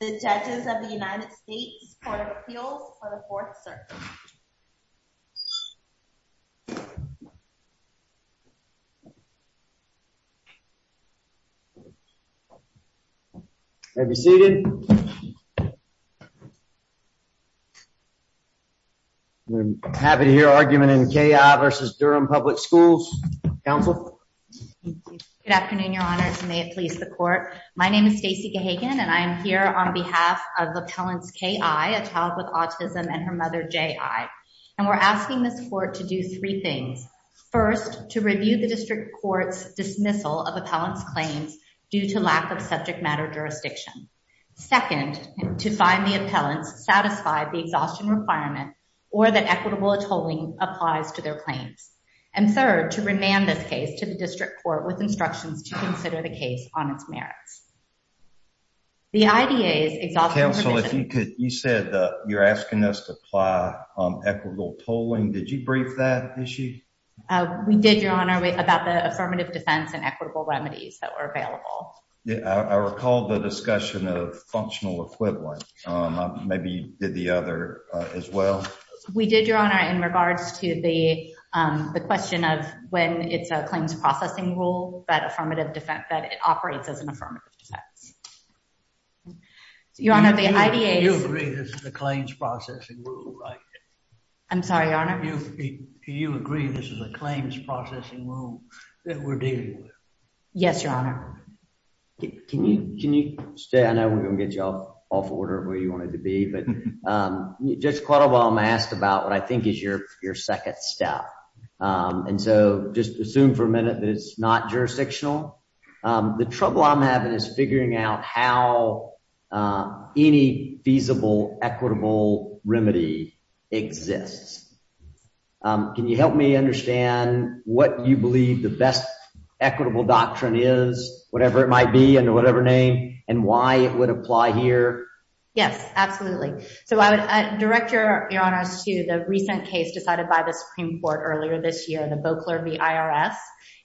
The Judges of the United States Court of Appeals for the 4th Circuit. May I be seated? I'm happy to hear argument in K.I. v. Durham Public Schools. Counsel? Good afternoon, Your Honors, and may it please the Court. My name is Stacey Gahagan, and I am here on behalf of Appellants K.I., a child with autism, and her mother J.I. And we're asking this Court to do three things. First, to review the District Court's dismissal of appellants' claims due to lack of subject matter jurisdiction. Second, to find the appellants satisfy the exhaustion requirement or that equitable tolling applies to their claims. And third, to remand this case to the District Court with instructions to consider the case on its merits. Counsel, you said you're asking us to apply equitable tolling. Did you brief that issue? We did, Your Honor, about the affirmative defense and equitable remedies that were available. I recall the discussion of functional equivalent. Maybe you did the other as well? We did, Your Honor, in regards to the question of when it's a claims processing rule that it operates as an affirmative defense. Do you agree this is a claims processing rule? I'm sorry, Your Honor? Do you agree this is a claims processing rule that we're dealing with? Yes, Your Honor. Can you stay? I know we're going to get you off order of where you wanted to be. But Judge Quattlebaum asked about what I think is your second step. And so just assume for a minute that it's not jurisdictional. The trouble I'm having is figuring out how any feasible equitable remedy exists. Can you help me understand what you believe the best equitable doctrine is, whatever it might be, under whatever name, and why it would apply here? Yes, absolutely. So I would direct Your Honor to the recent case decided by the Supreme Court earlier this year, the Boeckler v. IRS.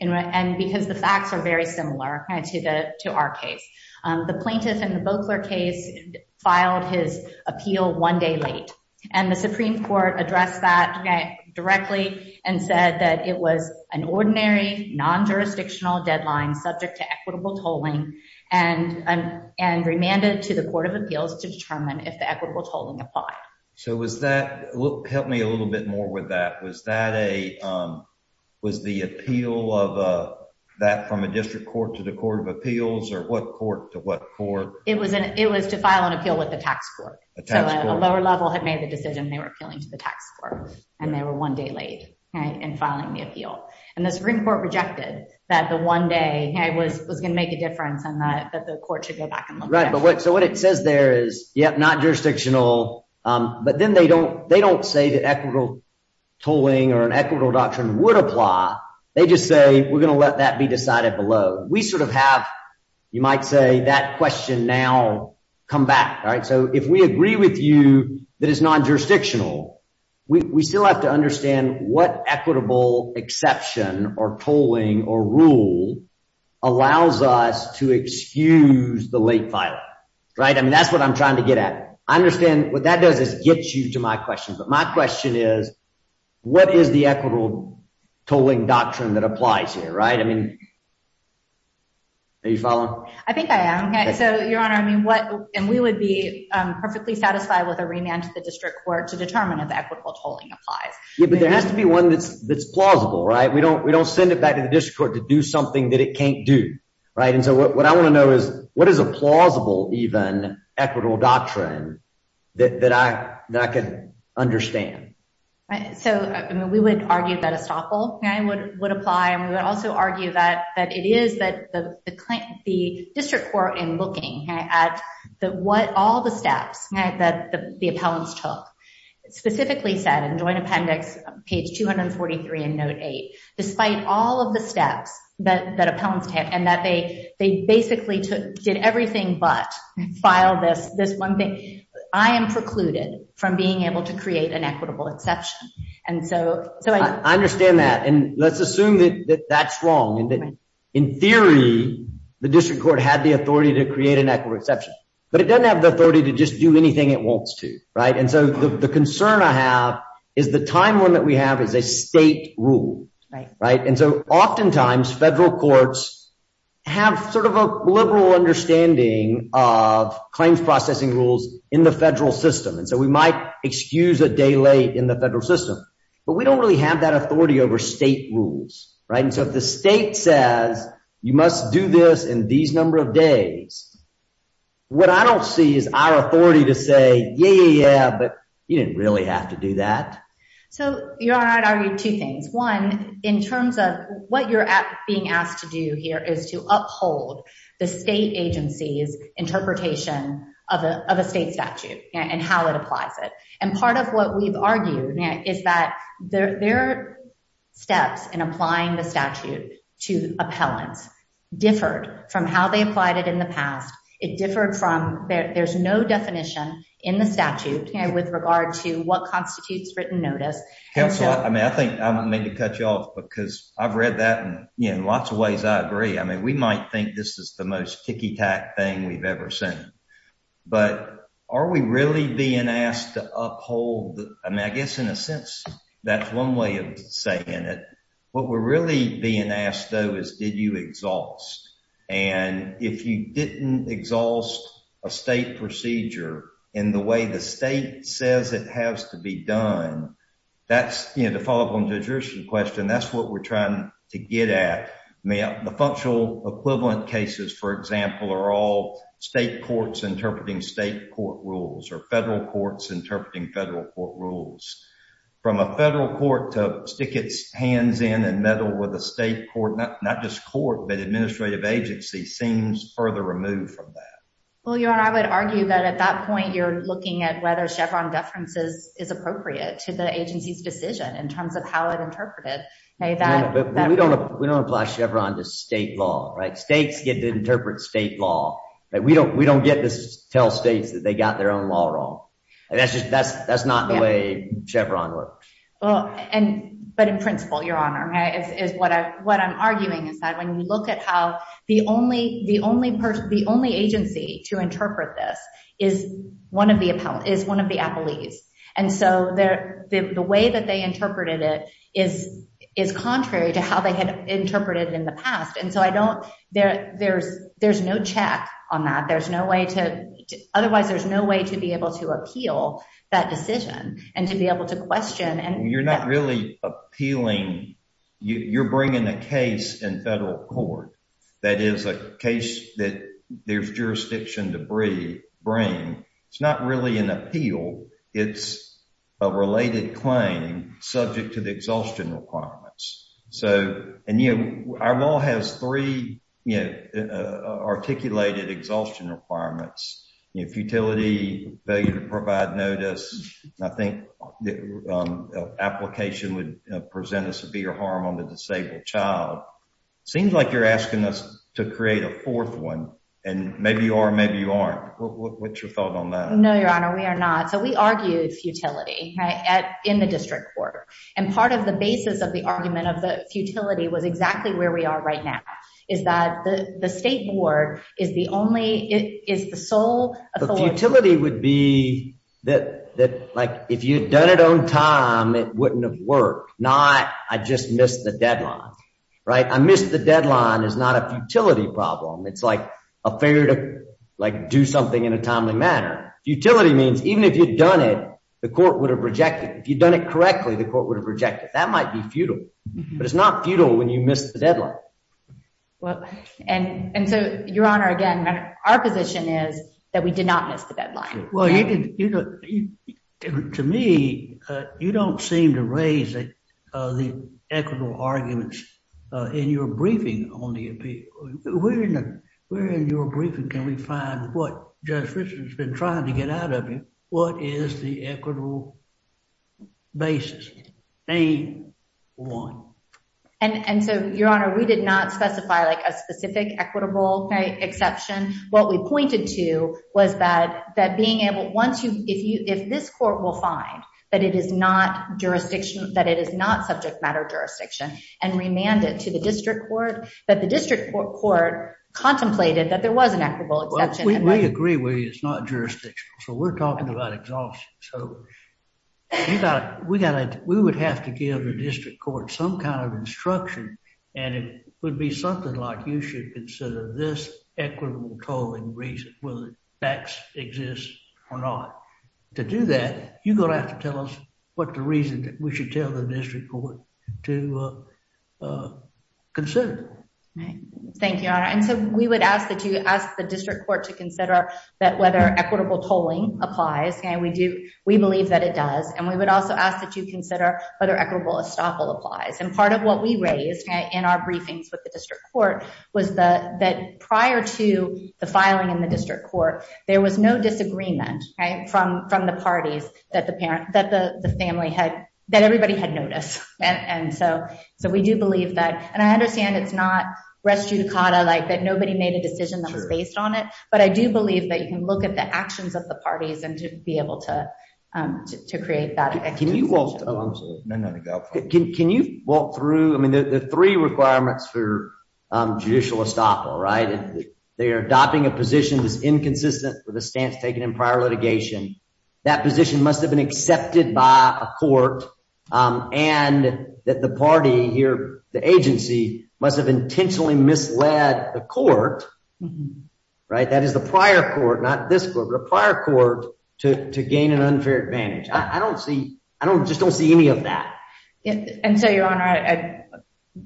And because the facts are very similar to our case. The plaintiff in the Boeckler case filed his appeal one day late. And the Supreme Court addressed that directly and said that it was an ordinary non-jurisdictional deadline subject to equitable tolling and remanded to the Court of Appeals to determine if the equitable tolling applied. So was that—help me a little bit more with that. Was that a—was the appeal of that from a district court to the Court of Appeals or what court to what court? It was to file an appeal with the tax court. So a lower level had made the decision they were appealing to the tax court, and they were one day late in filing the appeal. And the Supreme Court rejected that the one day was going to make a difference and that the court should go back and look. Right. So what it says there is, yep, not jurisdictional. But then they don't say that equitable tolling or an equitable doctrine would apply. They just say, we're going to let that be decided below. We sort of have, you might say, that question now come back. All right. So if we agree with you that it's non-jurisdictional, we still have to understand what equitable exception or tolling or rule allows us to excuse the late filing. Right. I mean, that's what I'm trying to get at. I understand what that does is get you to my question. But my question is, what is the equitable tolling doctrine that applies here? Right. I mean, are you following? I think I am. So, Your Honor, I mean, what and we would be perfectly satisfied with a remand to the district court to determine if equitable tolling applies. But there has to be one that's that's plausible. Right. We don't we don't send it back to the district court to do something that it can't do. Right. And so what I want to know is what is a plausible even equitable doctrine that I can understand. So, I mean, we would argue that a stopple would apply. And we would also argue that that it is that the the district court in looking at the what all the steps that the appellants took specifically said in joint appendix page 243 in note eight, despite all of the steps that that appellants take and that they they basically did everything but file this this one thing. I am precluded from being able to create an equitable exception. And so I understand that. And let's assume that that's wrong and that in theory, the district court had the authority to create an equitable exception. But it doesn't have the authority to just do anything it wants to. Right. And so the concern I have is the time limit we have is a state rule. Right. Right. And so oftentimes federal courts have sort of a liberal understanding of claims processing rules in the federal system. And so we might excuse a day late in the federal system, but we don't really have that authority over state rules. Right. So if the state says you must do this in these number of days. What I don't see is our authority to say, yeah, but you didn't really have to do that. So you're right. I read two things. One, in terms of what you're being asked to do here is to uphold the state agency's interpretation of a state statute and how it applies it. And part of what we've argued is that their steps in applying the statute to appellants differed from how they applied it in the past. It differed from there. There's no definition in the statute with regard to what constitutes written notice. Counselor, I mean, I think I may be cut you off because I've read that in lots of ways. I agree. I mean, we might think this is the most kicky tack thing we've ever seen. But are we really being asked to uphold? I mean, I guess in a sense, that's one way of saying it. What we're really being asked, though, is did you exhaust? And if you didn't exhaust a state procedure in the way the state says it has to be done. That's the follow up on the question. That's what we're trying to get at. The functional equivalent cases, for example, are all state courts interpreting state court rules or federal courts interpreting federal court rules. From a federal court to stick its hands in and meddle with a state court, not just court, but administrative agency seems further removed from that. Well, your honor, I would argue that at that point you're looking at whether Chevron deferences is appropriate to the agency's decision in terms of how it interpreted that. But we don't we don't apply Chevron to state law. States get to interpret state law. We don't we don't get to tell states that they got their own law wrong. That's just that's that's not the way Chevron works. Well, and but in principle, your honor, is what I what I'm arguing is that when you look at how the only the only the only agency to interpret this is one of the appellant is one of the appellees. And so the way that they interpreted it is is contrary to how they had interpreted in the past. And so I don't there there's there's no check on that. There's no way to. Otherwise, there's no way to be able to appeal that decision and to be able to question. And you're not really appealing. You're bringing a case in federal court. That is a case that there's jurisdiction to bring. It's not really an appeal. It's a related claim subject to the exhaustion requirements. So and our law has three articulated exhaustion requirements. Utility failure to provide notice. I think the application would present a severe harm on the disabled child. Seems like you're asking us to create a fourth one. And maybe you are. Maybe you aren't. What's your thought on that? No, your honor. We are not. So we argued futility in the district court. And part of the basis of the argument of the futility was exactly where we are right now. Is that the state board is the only is the sole. Utility would be that like if you'd done it on time, it wouldn't have worked. Not I just missed the deadline. Right. I missed the deadline is not a utility problem. It's like a failure to do something in a timely manner. Utility means even if you'd done it, the court would have rejected. If you'd done it correctly, the court would have rejected. That might be futile, but it's not futile when you miss the deadline. Well, and and so, your honor, again, our position is that we did not miss the deadline. Well, you know, to me, you don't seem to raise the equitable arguments in your briefing on the appeal. We're in your briefing. Can we find what justice has been trying to get out of it? What is the equitable basis? A one. And so, your honor, we did not specify like a specific equitable exception. What we pointed to was that that being able once you if you if this court will find that it is not jurisdiction, that it is not subject matter jurisdiction and remanded to the district court. That the district court contemplated that there was an equitable exception. We agree with you. It's not jurisdiction. So we're talking about exhaustion. So we got it. We got it. We would have to give the district court some kind of instruction. And it would be something like you should consider this equitable tolling reason whether X exists or not. To do that, you're going to have to tell us what the reason that we should tell the district court to consider. Thank you. And so we would ask that you ask the district court to consider that whether equitable tolling applies. We do. We believe that it does. And we would also ask that you consider whether equitable estoppel applies. And part of what we raised in our briefings with the district court was that prior to the filing in the district court, there was no disagreement from from the parties that the parent that the family had that everybody had noticed. So we do believe that. And I understand it's not res judicata like that. Nobody made a decision that was based on it. But I do believe that you can look at the actions of the parties and to be able to to create that. Can you walk through? I mean, the three requirements for judicial estoppel, right? They are adopting a position that's inconsistent with the stance taken in prior litigation. That position must have been accepted by a court and that the party here, the agency must have intentionally misled the court. Right. That is the prior court, not this court, but a prior court to gain an unfair advantage. I don't see I don't just don't see any of that. And so, Your Honor, I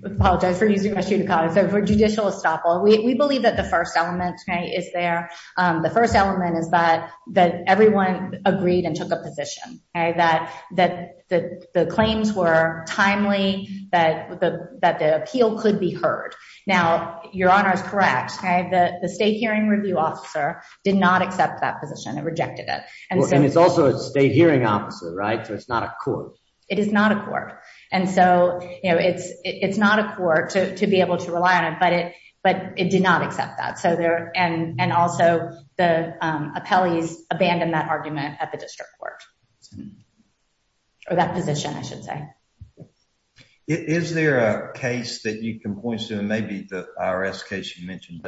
apologize for using judicata for judicial estoppel. We believe that the first element is there. The first element is that that everyone agreed and took a position that that the claims were timely, that that the appeal could be heard. Now, Your Honor is correct. The state hearing review officer did not accept that position and rejected it. And it's also a state hearing officer. Right. So it's not a court. It is not a court. And so, you know, it's it's not a court to be able to rely on it. But it but it did not accept that. So there and and also the appellees abandoned that argument at the district court. Or that position, I should say. Is there a case that you can point to? Maybe the IRS case you mentioned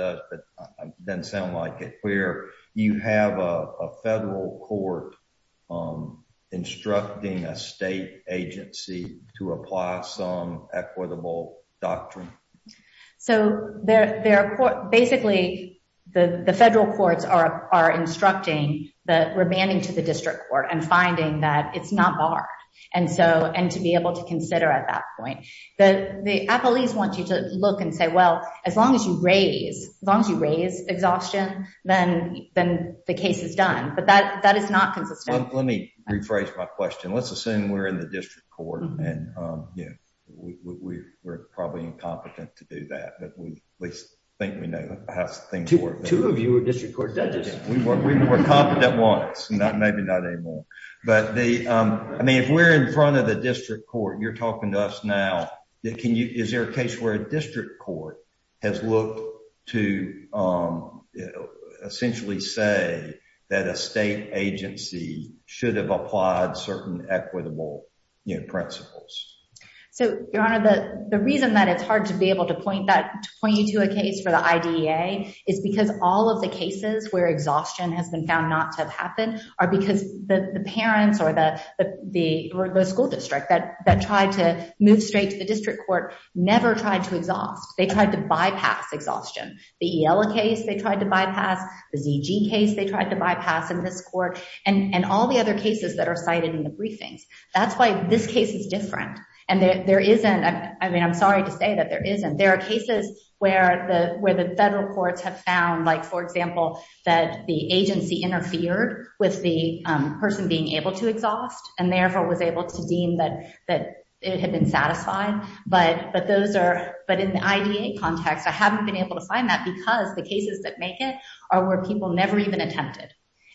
doesn't sound like it where you have a federal court instructing a state agency to apply some equitable doctrine. So there are basically the federal courts are are instructing the remanding to the district court and finding that it's not barred. And so and to be able to consider at that point that the appellees want you to look and say, well, as long as you raise as long as you raise exhaustion, then then the case is done. But that that is not consistent. Let me rephrase my question. Let's assume we're in the district court. And, you know, we were probably incompetent to do that. But we think we know how things work. Two of you were district court judges. We were we were confident once. Maybe not anymore. But they I mean, if we're in front of the district court, you're talking to us now. Can you is there a case where a district court has looked to essentially say that a state agency should have applied certain equitable principles? So, Your Honor, the reason that it's hard to be able to point that point you to a case for the idea is because all of the cases where exhaustion has been found not to happen are because the parents or the the school district that that tried to move straight to the district court never tried to exhaust. They tried to bypass exhaustion. The case they tried to bypass the case they tried to bypass in this court and all the other cases that are cited in the briefings. That's why this case is different. And there isn't. I mean, I'm sorry to say that there isn't. There are cases where the where the federal courts have found, like, for example, that the agency interfered with the person being able to exhaust and therefore was able to deem that that it had been satisfied. But, but those are, but in the IDA context I haven't been able to find that because the cases that make it are where people never even attempted.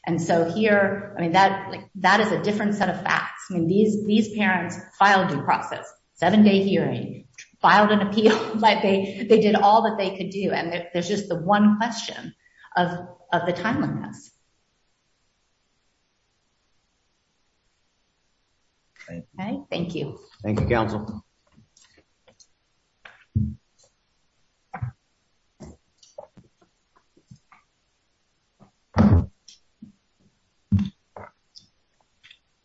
And so here, I mean that like that is a different set of facts and these these parents filed in process, seven day hearing filed an appeal, like they, they did all that they could do and there's just the one question of the timeliness. Thank you. Thank you. Council.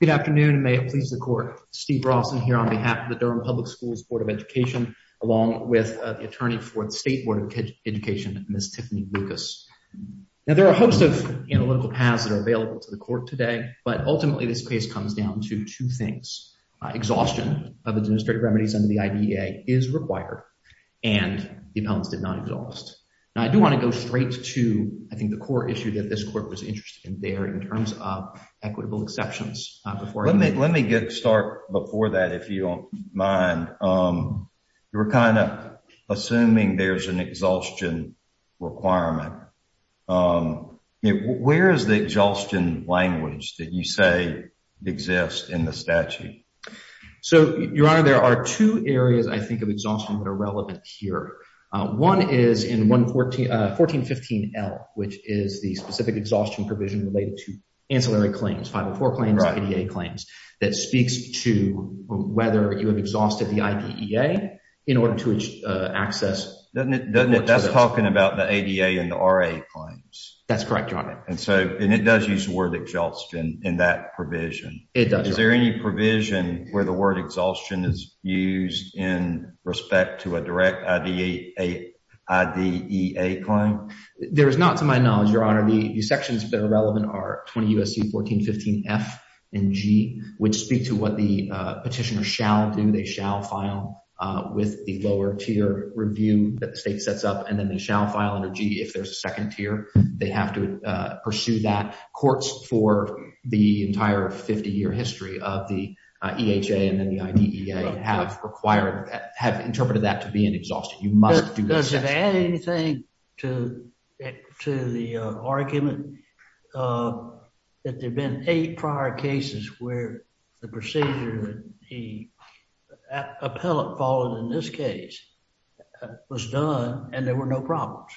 Good afternoon, may it please the court, Steve Ross and here on behalf of the Durham Public Schools Board of Education, along with the attorney for the State Board of Education, Miss Tiffany Lucas. Now there are a host of analytical paths that are available to the court today, but ultimately this case comes down to two things. Exhaustion of administrative remedies under the IDA is required, and the appellants did not exhaust. And I do want to go straight to, I think the core issue that this court was interested in there in terms of equitable exceptions. Let me, let me get start before that if you don't mind. You were kind of assuming there's an exhaustion requirement. Where is the exhaustion language that you say exists in the statute. So, Your Honor, there are two areas I think of exhaustion that are relevant here. One is in 114 1415 L, which is the specific exhaustion provision related to ancillary claims 504 claims claims that speaks to whether you have exhausted the idea in order to access. That's talking about the ADA and the RA claims. That's correct, Your Honor. And so, and it does use the word exhaustion in that provision. Is there any provision where the word exhaustion is used in respect to a direct IDA claim. There is not to my knowledge, Your Honor, the sections that are relevant are 20 USC 1415 F and G, which speak to what the petitioner shall do. They shall file with the lower tier review that the state sets up and then they shall file under G if there's a second tier, they have to pursue that courts for the entire 50 year history of the EHA and then the IDEA have required have interpreted that to be an exhaustion. Does it add anything to the argument that there have been eight prior cases where the procedure that the appellate followed in this case was done and there were no problems.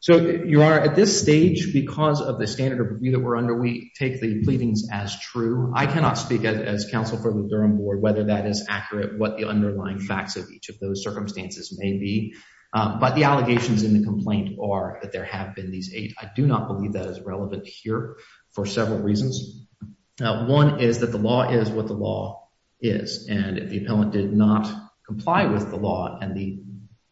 So, Your Honor, at this stage, because of the standard of review that we're under, we take the pleadings as true. I cannot speak as counsel for the Durham board, whether that is accurate, what the underlying facts of each of those circumstances may be. But the allegations in the complaint are that there have been these eight. I do not believe that is relevant here for several reasons. One is that the law is what the law is. And if the appellant did not comply with the law and the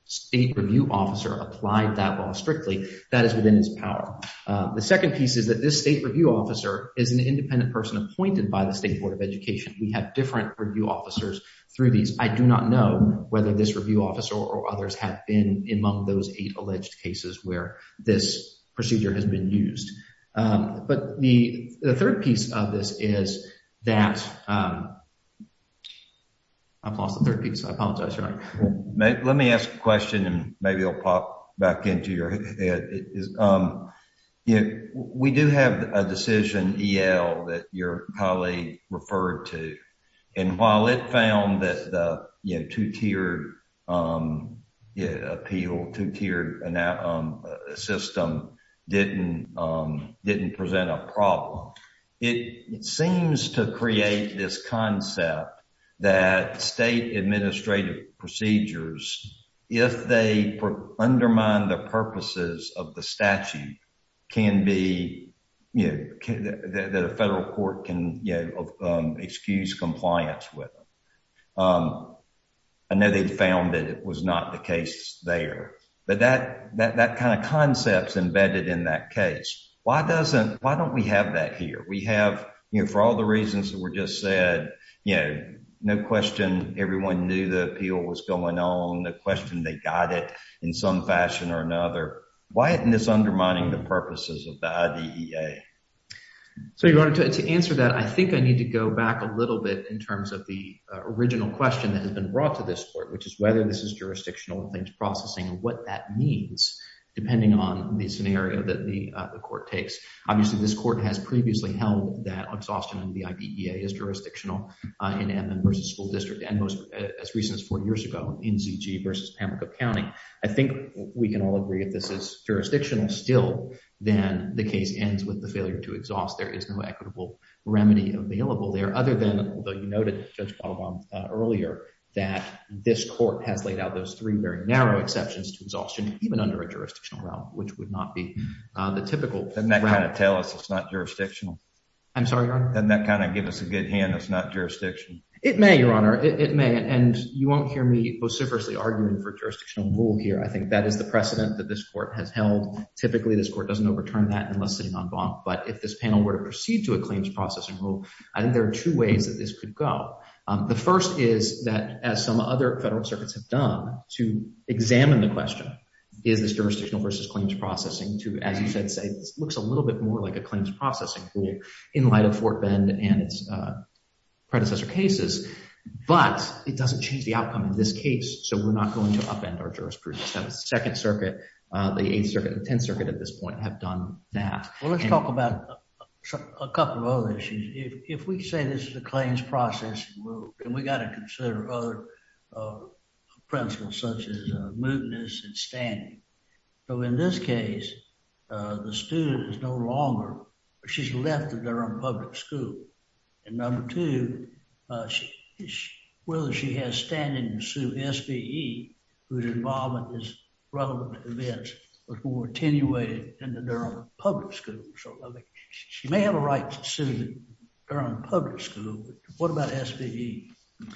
state review officer applied that law strictly, that is within his power. The second piece is that this state review officer is an independent person appointed by the State Board of Education. We have different review officers through these. I do not know whether this review officer or others have been among those eight alleged cases where this procedure has been used. But the third piece of this is that I've lost the third piece. I apologize. Let me ask a question and maybe I'll pop back into your head. We do have a decision, E.L., that your colleague referred to. And while it found that the two-tiered appeal, two-tiered system didn't present a problem, it seems to create this concept that state administrative procedures, if they undermine the purposes of the statute, can be, you know, that a federal court can excuse compliance with them. I know they found that it was not the case there. But that kind of concept is embedded in that case. Why doesn't, why don't we have that here? We have, you know, for all the reasons that were just said, you know, no question everyone knew the appeal was going on. No question they got it in some fashion or another. Why isn't this undermining the purposes of the IDEA? So, Your Honor, to answer that, I think I need to go back a little bit in terms of the original question that has been brought to this court, which is whether this is jurisdictional and things processing and what that means, depending on the scenario that the court takes. Obviously, this court has previously held that exhaustion in the IDEA is jurisdictional in Edmond v. School District and most as recent as four years ago in ZG v. Pamlico County. I think we can all agree if this is jurisdictional still, then the case ends with the failure to exhaust. There is no equitable remedy available there other than, although you noted Judge Balaban earlier, that this court has laid out those three very narrow exceptions to exhaustion, even under a jurisdictional realm, which would not be the typical. Doesn't that kind of tell us it's not jurisdictional? I'm sorry, Your Honor? Doesn't that kind of give us a good hint it's not jurisdictional? It may, Your Honor. It may. And you won't hear me vociferously arguing for jurisdictional rule here. I think that is the precedent that this court has held. Typically, this court doesn't overturn that unless sitting on bonk. But if this panel were to proceed to a claims processing rule, I think there are two ways that this could go. The first is that, as some other federal circuits have done, to examine the question, is this jurisdictional versus claims processing to, as you said, say, this looks a little bit more like a claims processing rule in light of Fort Bend and its predecessor cases. But it doesn't change the outcome in this case. So we're not going to upend our jurisprudence. The Second Circuit, the Eighth Circuit, the Tenth Circuit at this point have done that. Well, let's talk about a couple of other issues. If we say this is a claims processing rule, then we've got to consider other principles such as mootness and standing. So in this case, the student is no longer, she's left the Durham Public School. And number two, whether she has standing to sue SBE, whose involvement is relevant to this, was more attenuated in the Durham Public School. She may have a right to sue the Durham Public School, but what about SBE? And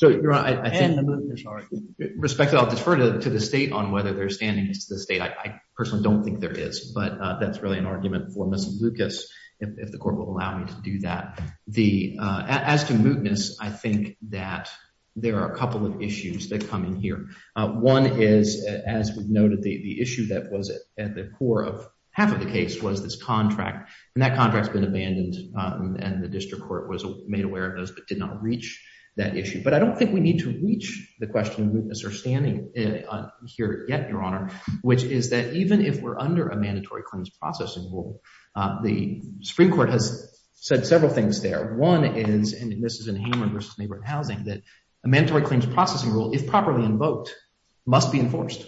the mootness argument. Respectfully, I'll defer to the state on whether there's standing to the state. I personally don't think there is, but that's really an argument for Ms. Lucas, if the court will allow me to do that. As to mootness, I think that there are a couple of issues that come in here. One is, as we've noted, the issue that was at the core of half of the case was this contract. And that contract's been abandoned, and the district court was made aware of those but did not reach that issue. But I don't think we need to reach the question of mootness or standing here yet, Your Honor, which is that even if we're under a mandatory claims processing rule, the Supreme Court has said several things there. One is, and this is in Hamer v. Neighborhood Housing, that a mandatory claims processing rule, if properly invoked, must be enforced.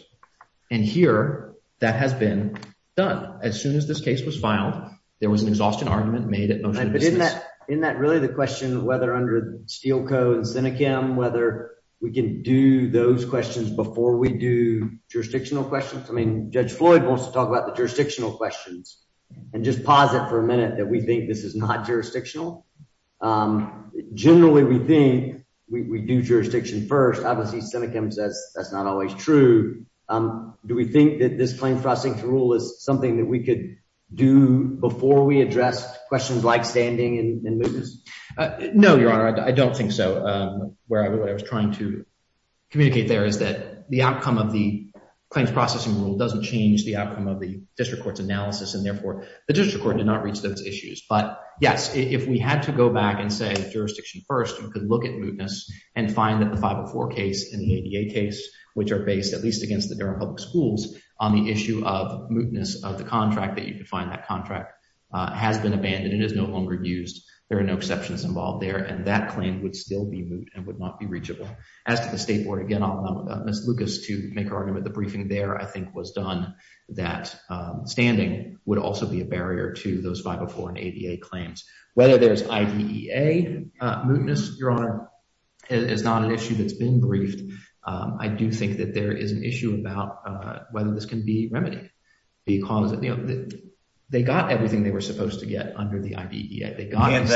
And here that has been done. As soon as this case was filed, there was an exhaustion argument made at motion to dismiss. Isn't that really the question of whether under Steel Co. and Senecam, whether we can do those questions before we do jurisdictional questions? I mean, Judge Floyd wants to talk about the jurisdictional questions and just pause it for a minute that we think this is not jurisdictional. Generally, we think we do jurisdiction first. Obviously, Senecam says that's not always true. Do we think that this claims processing rule is something that we could do before we address questions like standing and mootness? No, Your Honor, I don't think so. What I was trying to communicate there is that the outcome of the claims processing rule doesn't change the outcome of the district court's analysis, and therefore the district court did not reach those issues. But yes, if we had to go back and say jurisdiction first, we could look at mootness and find that the 504 case and the ADA case, which are based at least against the Durham Public Schools, on the issue of mootness of the contract, that you could find that contract, has been abandoned and is no longer used. There are no exceptions involved there, and that claim would still be moot and would not be reachable. As to the State Board, again, I'll allow Ms. Lucas to make her argument. The briefing there, I think, was done that standing would also be a barrier to those 504 and ADA claims. Whether there's IDEA mootness, Your Honor, is not an issue that's been briefed. I do think that there is an issue about whether this can be remedied. Because they got everything they were supposed to get under the IDEA. Can't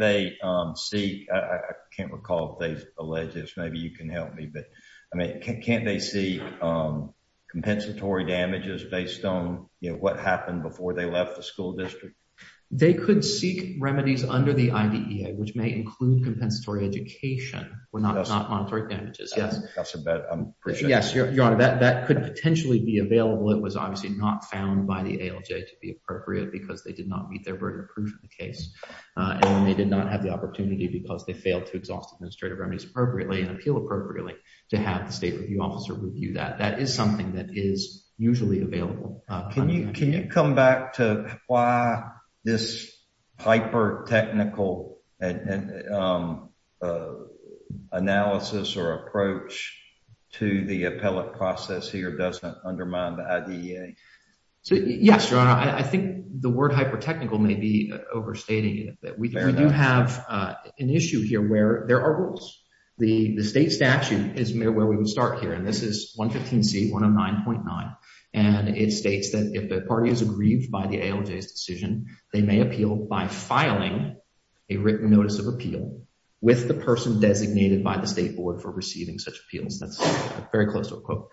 they see, I can't recall if they've alleged this, maybe you can help me, but can't they see compensatory damages based on what happened before they left the school district? They could seek remedies under the IDEA, which may include compensatory education, but not monetary damages. Yes, Your Honor, that could potentially be available. It was obviously not found by the ALJ to be appropriate because they did not meet their burden of proof in the case. And they did not have the opportunity because they failed to exhaust administrative remedies appropriately and appeal appropriately to have the State Review Officer review that. That is something that is usually available. Can you come back to why this hyper-technical analysis or approach to the appellate process here doesn't undermine the IDEA? Yes, Your Honor, I think the word hyper-technical may be overstating it. We do have an issue here where there are rules. The State statute is where we would start here. And this is 115C, 109.9, and it states that if the party is aggrieved by the ALJ's decision, they may appeal by filing a written notice of appeal with the person designated by the State Board for receiving such appeals. That's very close to a quote.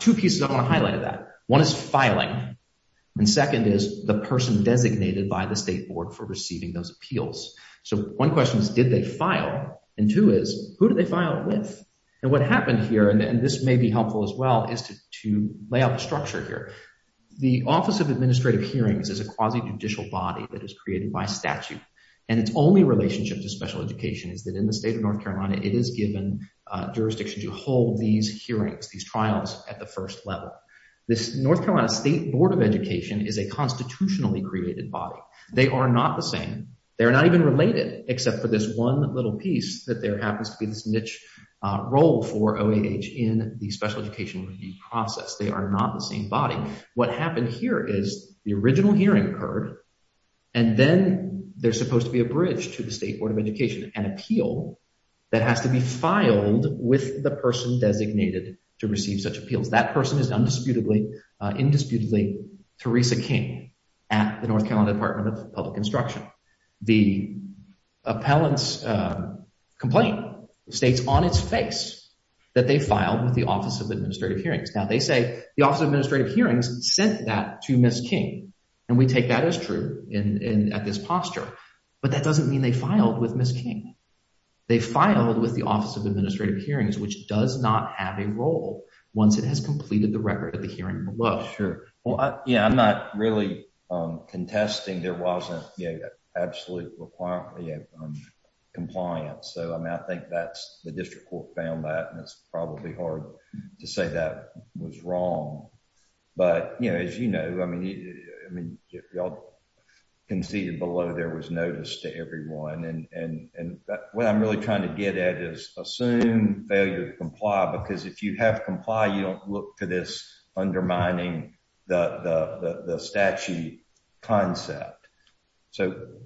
Two pieces I want to highlight of that. One is filing, and second is the person designated by the State Board for receiving those appeals. So one question is, did they file? And two is, who did they file with? And what happened here, and this may be helpful as well, is to lay out the structure here. The Office of Administrative Hearings is a quasi-judicial body that is created by statute. And its only relationship to special education is that in the state of North Carolina, it is given jurisdiction to hold these hearings, these trials at the first level. This North Carolina State Board of Education is a constitutionally created body. They are not the same. They are not even related except for this one little piece that there happens to be this niche role for OAH in the special education review process. They are not the same body. What happened here is the original hearing occurred, and then there's supposed to be a bridge to the State Board of Education, an appeal that has to be filed with the person designated to receive such appeals. That person is indisputably Theresa King at the North Carolina Department of Public Instruction. The appellant's complaint states on its face that they filed with the Office of Administrative Hearings. Now, they say the Office of Administrative Hearings sent that to Ms. King, and we take that as true at this posture. But that doesn't mean they filed with Ms. King. They filed with the Office of Administrative Hearings, which does not have a role once it has completed the record of the hearing below. Sure. Well, yeah, I'm not really contesting there wasn't absolute compliance. So I think that's – the district court found that, and it's probably hard to say that was wrong. But as you know, I mean, y'all conceded below there was notice to everyone. And what I'm really trying to get at is assume failure to comply because if you have complied, you don't look to this undermining the statute concept. So –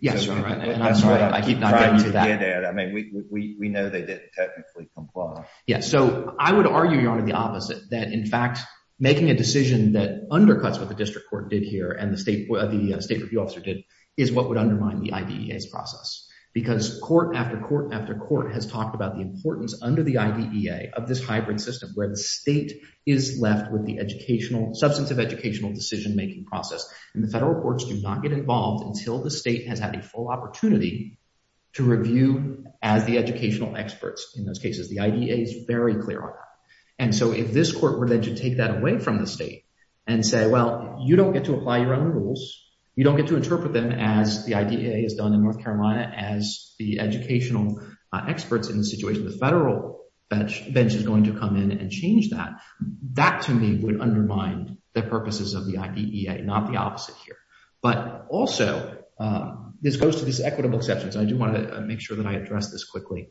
Yes, you're right, and I'm sorry. I keep not getting to that. I mean, we know they didn't technically comply. So I would argue, Your Honor, the opposite, that, in fact, making a decision that undercuts what the district court did here and the state review officer did is what would undermine the IDEA's process. Because court after court after court has talked about the importance under the IDEA of this hybrid system where the state is left with the educational – substantive educational decision-making process. And the federal courts do not get involved until the state has had a full opportunity to review as the educational experts in those cases. The IDEA is very clear on that. And so if this court were then to take that away from the state and say, well, you don't get to apply your own rules. You don't get to interpret them as the IDEA has done in North Carolina as the educational experts in the situation, the federal bench is going to come in and change that. That, to me, would undermine the purposes of the IDEA, not the opposite here. But also, this goes to these equitable exceptions. I do want to make sure that I address this quickly.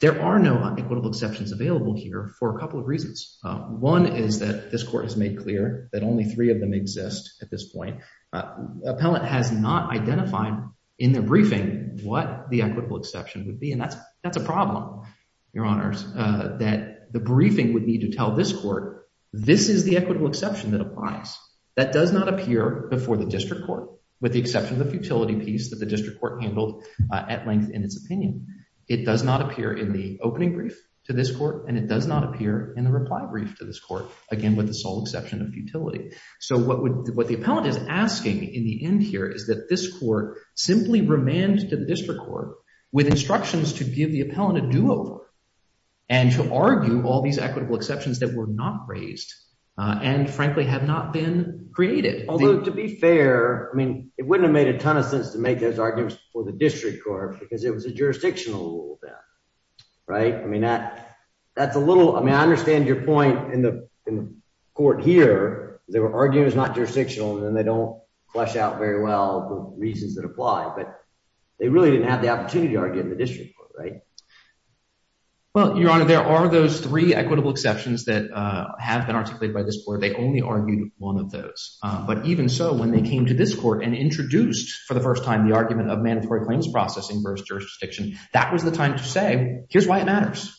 There are no equitable exceptions available here for a couple of reasons. One is that this court has made clear that only three of them exist at this point. Appellant has not identified in the briefing what the equitable exception would be, and that's a problem, Your Honors. That the briefing would need to tell this court, this is the equitable exception that applies. That does not appear before the district court with the exception of the futility piece that the district court handled at length in its opinion. It does not appear in the opening brief to this court, and it does not appear in the reply brief to this court, again, with the sole exception of futility. So what the appellant is asking in the end here is that this court simply remand to the district court with instructions to give the appellant a do-over and to argue all these equitable exceptions that were not raised and, frankly, have not been created. Although, to be fair, I mean, it wouldn't have made a ton of sense to make those arguments for the district court because it was a jurisdictional rule then, right? I mean, I understand your point in the court here. They were arguing it was not jurisdictional, and then they don't flesh out very well the reasons that apply. But they really didn't have the opportunity to argue in the district court, right? Well, Your Honor, there are those three equitable exceptions that have been articulated by this court. They only argued one of those. But even so, when they came to this court and introduced for the first time the argument of mandatory claims processing versus jurisdiction, that was the time to say, here's why it matters.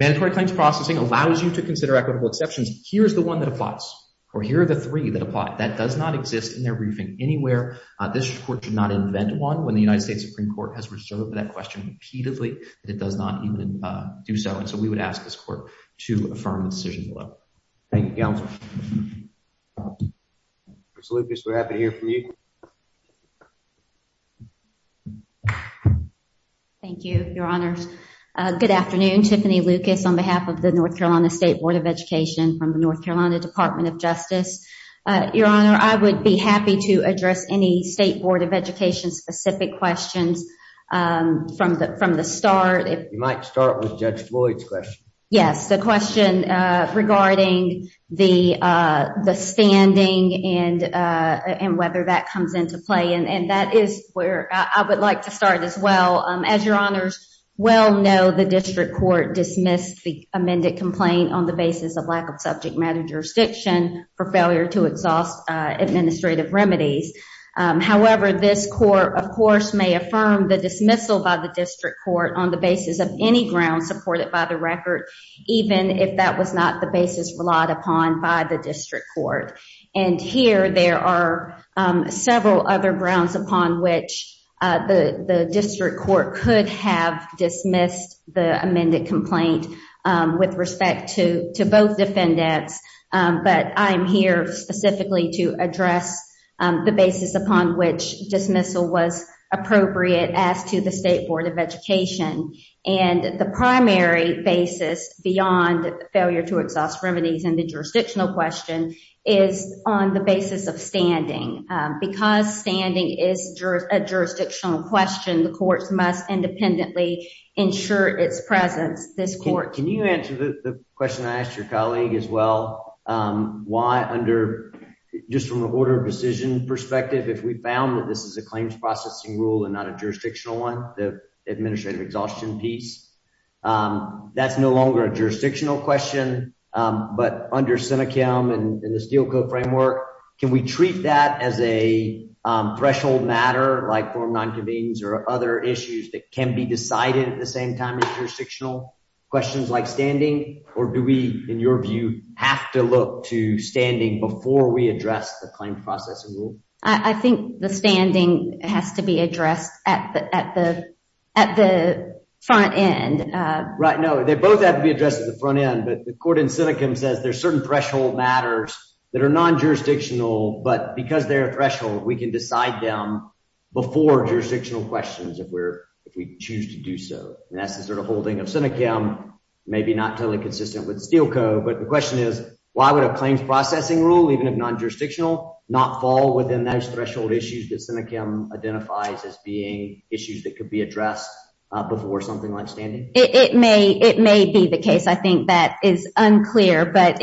Mandatory claims processing allows you to consider equitable exceptions. Here's the one that applies, or here are the three that apply. That does not exist in their briefing anywhere. This court did not invent one. When the United States Supreme Court has reserved that question repeatedly, it does not even do so. And so we would ask this court to affirm the decision below. Thank you, Counsel. Ms. Lucas, we're happy to hear from you. Thank you, Your Honor. Good afternoon. Tiffany Lucas on behalf of the North Carolina State Board of Education from the North Carolina Department of Justice. Your Honor, I would be happy to address any State Board of Education specific questions from the start. You might start with Judge Floyd's question. Yes, the question regarding the standing and whether that comes into play. And that is where I would like to start as well. As Your Honors well know, the district court dismissed the amended complaint on the basis of lack of subject matter jurisdiction for failure to exhaust administrative remedies. However, this court, of course, may affirm the dismissal by the district court on the basis of any grounds supported by the record, even if that was not the basis relied upon by the district court. And here there are several other grounds upon which the district court could have dismissed the amended complaint with respect to both defendants. But I'm here specifically to address the basis upon which dismissal was appropriate as to the State Board of Education. And the primary basis beyond failure to exhaust remedies and the jurisdictional question is on the basis of standing. Because standing is a jurisdictional question, the courts must independently ensure its presence. Can you answer the question I asked your colleague as well? Why under just from the order of decision perspective, if we found that this is a claims processing rule and not a jurisdictional one, the administrative exhaustion piece, that's no longer a jurisdictional question. But under Seneca and the Steelco framework, can we treat that as a threshold matter like for nonconvenience or other issues that can be decided at the same time as jurisdictional questions like standing? Or do we, in your view, have to look to standing before we address the claim processing rule? I think the standing has to be addressed at the at the at the front end. Right. No, they both have to be addressed at the front end. But the court in Seneca says there's certain threshold matters that are non-jurisdictional. But because they're a threshold, we can decide them before jurisdictional questions if we're if we choose to do so. And that's the sort of holding of Seneca, maybe not totally consistent with Steelco. But the question is, why would a claims processing rule, even if non-jurisdictional, not fall within those threshold issues that Seneca identifies as being issues that could be addressed before something like standing? It may it may be the case. I think that is unclear. But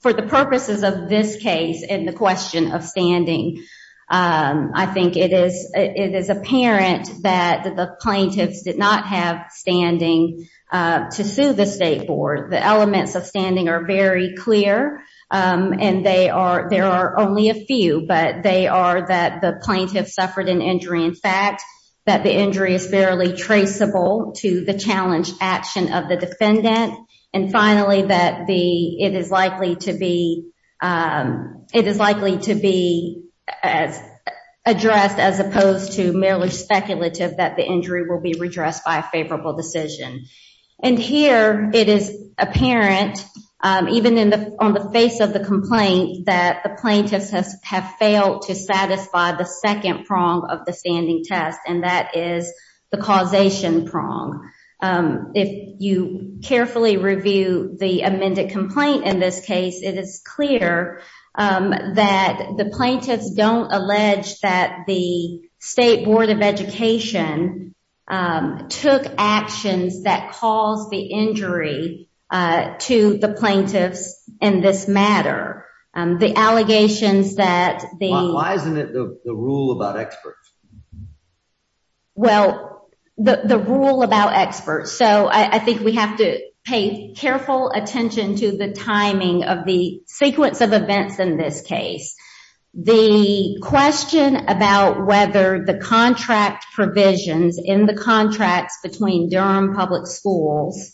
for the purposes of this case and the question of standing, I think it is it is apparent that the plaintiffs did not have standing to sue the state board. The elements of standing are very clear and they are there are only a few, but they are that the plaintiffs suffered an injury. In fact, that the injury is barely traceable to the challenge action of the defendant. And finally, that the it is likely to be it is likely to be as addressed as opposed to merely speculative that the injury will be redressed by a favorable decision. And here it is apparent, even in the on the face of the complaint, that the plaintiffs have failed to satisfy the second prong of the standing test. And that is the causation prong. If you carefully review the amended complaint in this case, it is clear that the plaintiffs don't allege that the state board of education took actions that caused the injury to the plaintiffs in this matter. The allegations that the why isn't it the rule about experts? Well, the rule about experts, so I think we have to pay careful attention to the timing of the sequence of events in this case. The question about whether the contract provisions in the contracts between Durham Public Schools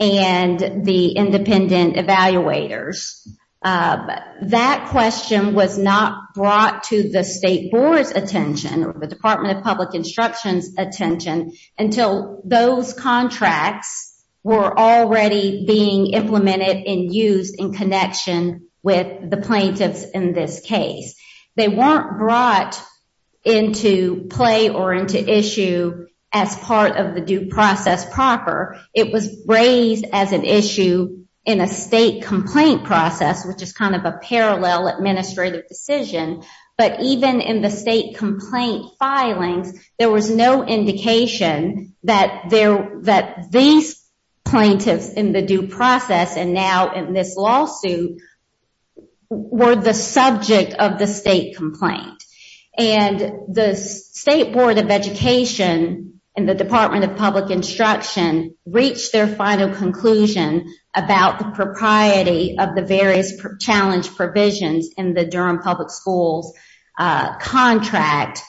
and the independent evaluators, that question was not brought to the state board's attention or the Department of Public Instruction's attention until those contracts were already being implemented and used in connection with the plaintiffs in this case. They weren't brought into play or into issue as part of the due process proper. It was raised as an issue in a state complaint process, which is kind of a parallel administrative decision. But even in the state complaint filings, there was no indication that these plaintiffs in the due process and now in this lawsuit were the subject of the state complaint. And the state board of education and the Department of Public Instruction reached their final conclusion about the propriety of the various challenge provisions in the Durham Public Schools contract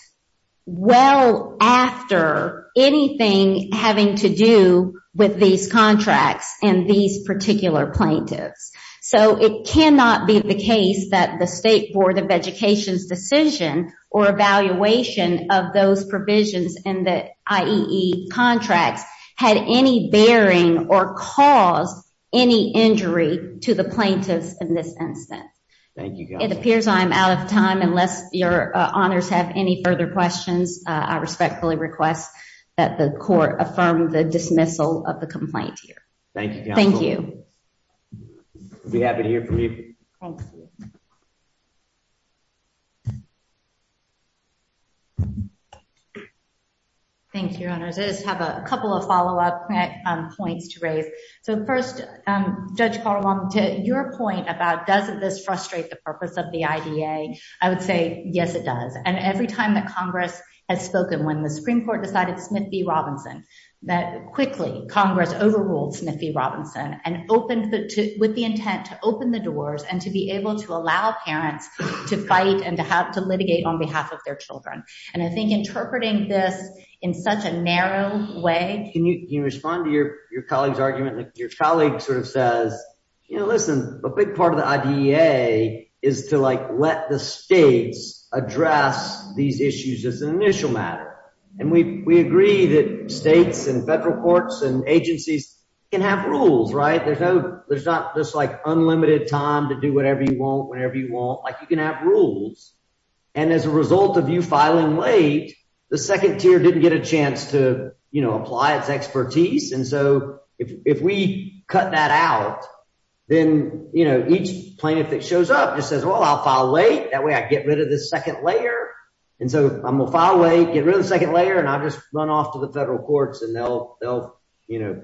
well after anything having to do with these contracts and these particular plaintiffs. So it cannot be the case that the state board of education's decision or evaluation of those provisions in the IEE contracts had any bearing or caused any injury to the plaintiffs in this instance. Thank you. It appears I'm out of time. Unless your honors have any further questions, I respectfully request that the court affirm the dismissal of the complaint here. Thank you. Thank you. Be happy to hear from you. Thank you. Thank you. I just have a couple of follow up points to raise. So first, Judge Carl on to your point about doesn't this frustrate the purpose of the IDA, I would say, yes, it does. And every time that Congress has spoken when the Supreme Court decided Smith v. Robinson, that quickly Congress overruled Smith v. Robinson and opened with the intent to open the doors and to be able to allow parents to fight and to have to litigate on behalf of their children. And I think interpreting this in such a narrow way. Can you respond to your colleague's argument? Your colleague sort of says, you know, listen, a big part of the idea is to, like, let the states address these issues as an initial matter. And we agree that states and federal courts and agencies can have rules. Right. There's no there's not this, like, unlimited time to do whatever you want, whatever you want. And as a result of you filing late, the second tier didn't get a chance to, you know, apply its expertise. And so if we cut that out, then, you know, each plaintiff that shows up just says, well, I'll file late. That way I get rid of the second layer. And so I'm a file a get rid of the second layer and I'll just run off to the federal courts and they'll they'll, you know,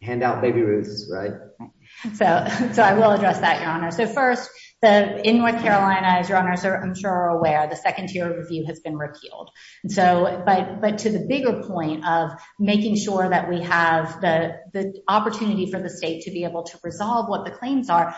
hand out baby roots. So so I will address that, Your Honor. So first, the in North Carolina, as your honors are I'm sure aware, the second tier review has been repealed. So but but to the bigger point of making sure that we have the opportunity for the state to be able to resolve what the claims are.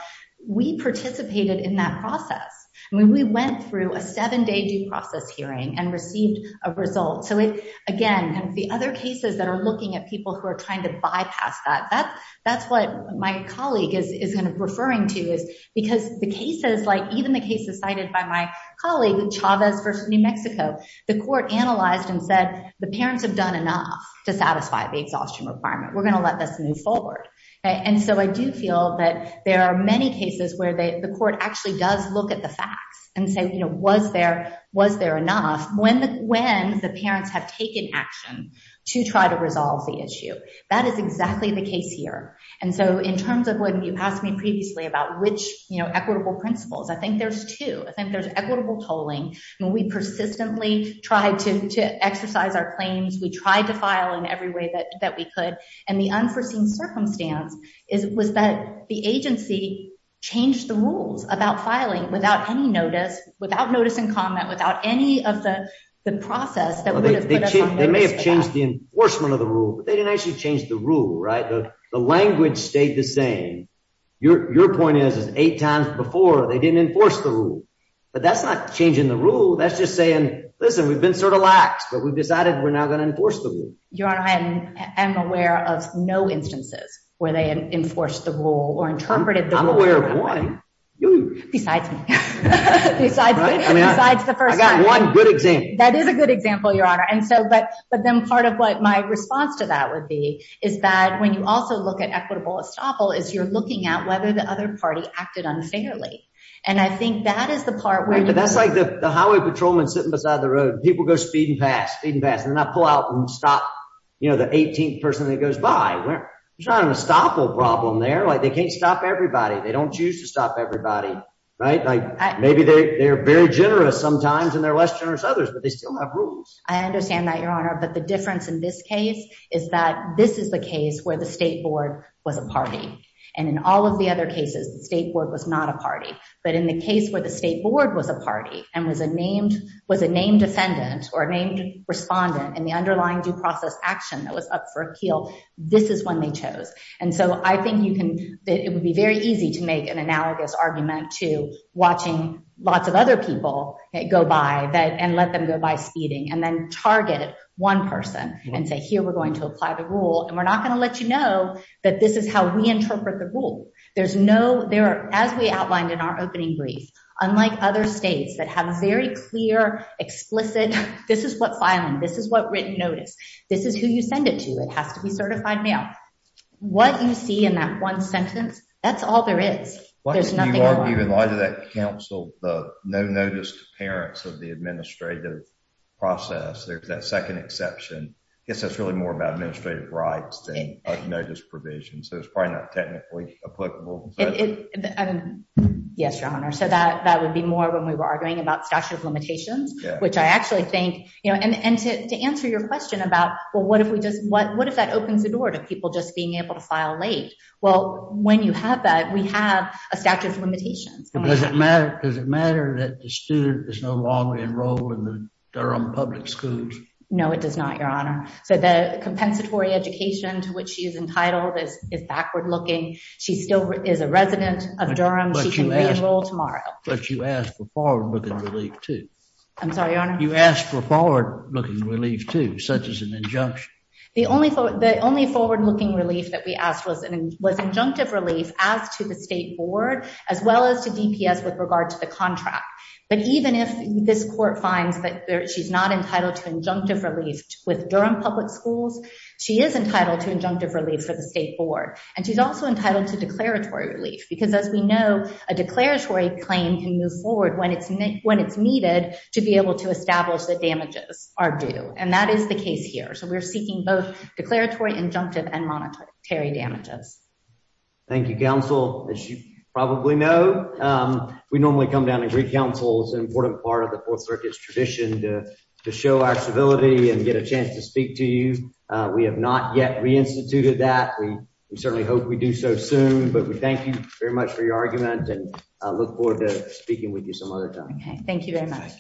We participated in that process. We went through a seven day due process hearing and received a result. So, again, the other cases that are looking at people who are trying to bypass that. That's what my colleague is referring to is because the cases like even the cases cited by my colleague Chavez for New Mexico. The court analyzed and said the parents have done enough to satisfy the exhaustion requirement. We're going to let this move forward. And so I do feel that there are many cases where the court actually does look at the facts and say, you know, was there was there enough when when the parents have taken action to try to resolve the issue. That is exactly the case here. And so in terms of what you asked me previously about which equitable principles, I think there's two. I think there's equitable tolling. We persistently tried to exercise our claims. We tried to file in every way that we could. And the unforeseen circumstance is was that the agency changed the rules about filing without any notice, without notice and comment, without any of the process. They may have changed the enforcement of the rule, but they didn't actually change the rule. Right. The language stayed the same. Your point is, is eight times before they didn't enforce the rule. But that's not changing the rule. That's just saying, listen, we've been sort of lax, but we've decided we're not going to enforce the rule. Your Honor, I am aware of no instances where they enforced the rule or interpreted the rule. I'm aware of one. Besides me. Besides the first time. I got one good example. That is a good example, Your Honor. And so but but then part of what my response to that would be is that when you also look at equitable estoppel is you're looking at whether the other party acted unfairly. And I think that is the part where. That's like the highway patrolman sitting beside the road. People go speed and pass, speed and pass. And then I pull out and stop the 18th person that goes by. There's not an estoppel problem there. They can't stop everybody. They don't choose to stop everybody. Right. Maybe they're very generous sometimes and they're less generous others, but they still have rules. I understand that, Your Honor. But the difference in this case is that this is the case where the state board was a party. And in all of the other cases, the state board was not a party. But in the case where the state board was a party and was a named was a named defendant or named respondent and the underlying due process action that was up for a kill. This is when they chose. And so I think you can it would be very easy to make an analogous argument to watching lots of other people go by that and let them go by speeding and then target one person and say, here, we're going to apply the rule. And we're not going to let you know that this is how we interpret the rule. There's no there are, as we outlined in our opening brief, unlike other states that have very clear, explicit. This is what filing. This is what written notice. This is who you send it to. It has to be certified mail. What you see in that one sentence. That's all there is. There's not even a lot of that council. The no notice to parents of the administrative process. There's that second exception. It's really more about administrative rights than notice provision. So it's probably not technically applicable. Yes, Your Honor. So that that would be more when we were arguing about statute of limitations, which I actually think, you know, and to answer your question about, well, what if we just what? If we're just being able to file late? Well, when you have that, we have a statute of limitations. Does it matter? Does it matter that the student is no longer enrolled in the Durham public schools? No, it does not, Your Honor. So the compensatory education to which she is entitled is backward looking. She still is a resident of Durham. She can re-enroll tomorrow. But you ask for forward looking relief, too. I'm sorry, Your Honor? You ask for forward looking relief, too, such as an injunction. The only forward looking relief that we asked was an injunctive relief as to the state board, as well as to DPS with regard to the contract. But even if this court finds that she's not entitled to injunctive relief with Durham public schools, she is entitled to injunctive relief for the state board. And she's also entitled to declaratory relief because, as we know, a declaratory claim can move forward when it's needed to be able to establish that damages are due. And that is the case here. So we're seeking both declaratory, injunctive and monetary damages. Thank you, counsel. As you probably know, we normally come down and greet counsel. It's an important part of the Fourth Circuit's tradition to show our civility and get a chance to speak to you. We have not yet reinstituted that. We certainly hope we do so soon. But we thank you very much for your argument and look forward to speaking with you some other time. Thank you very much.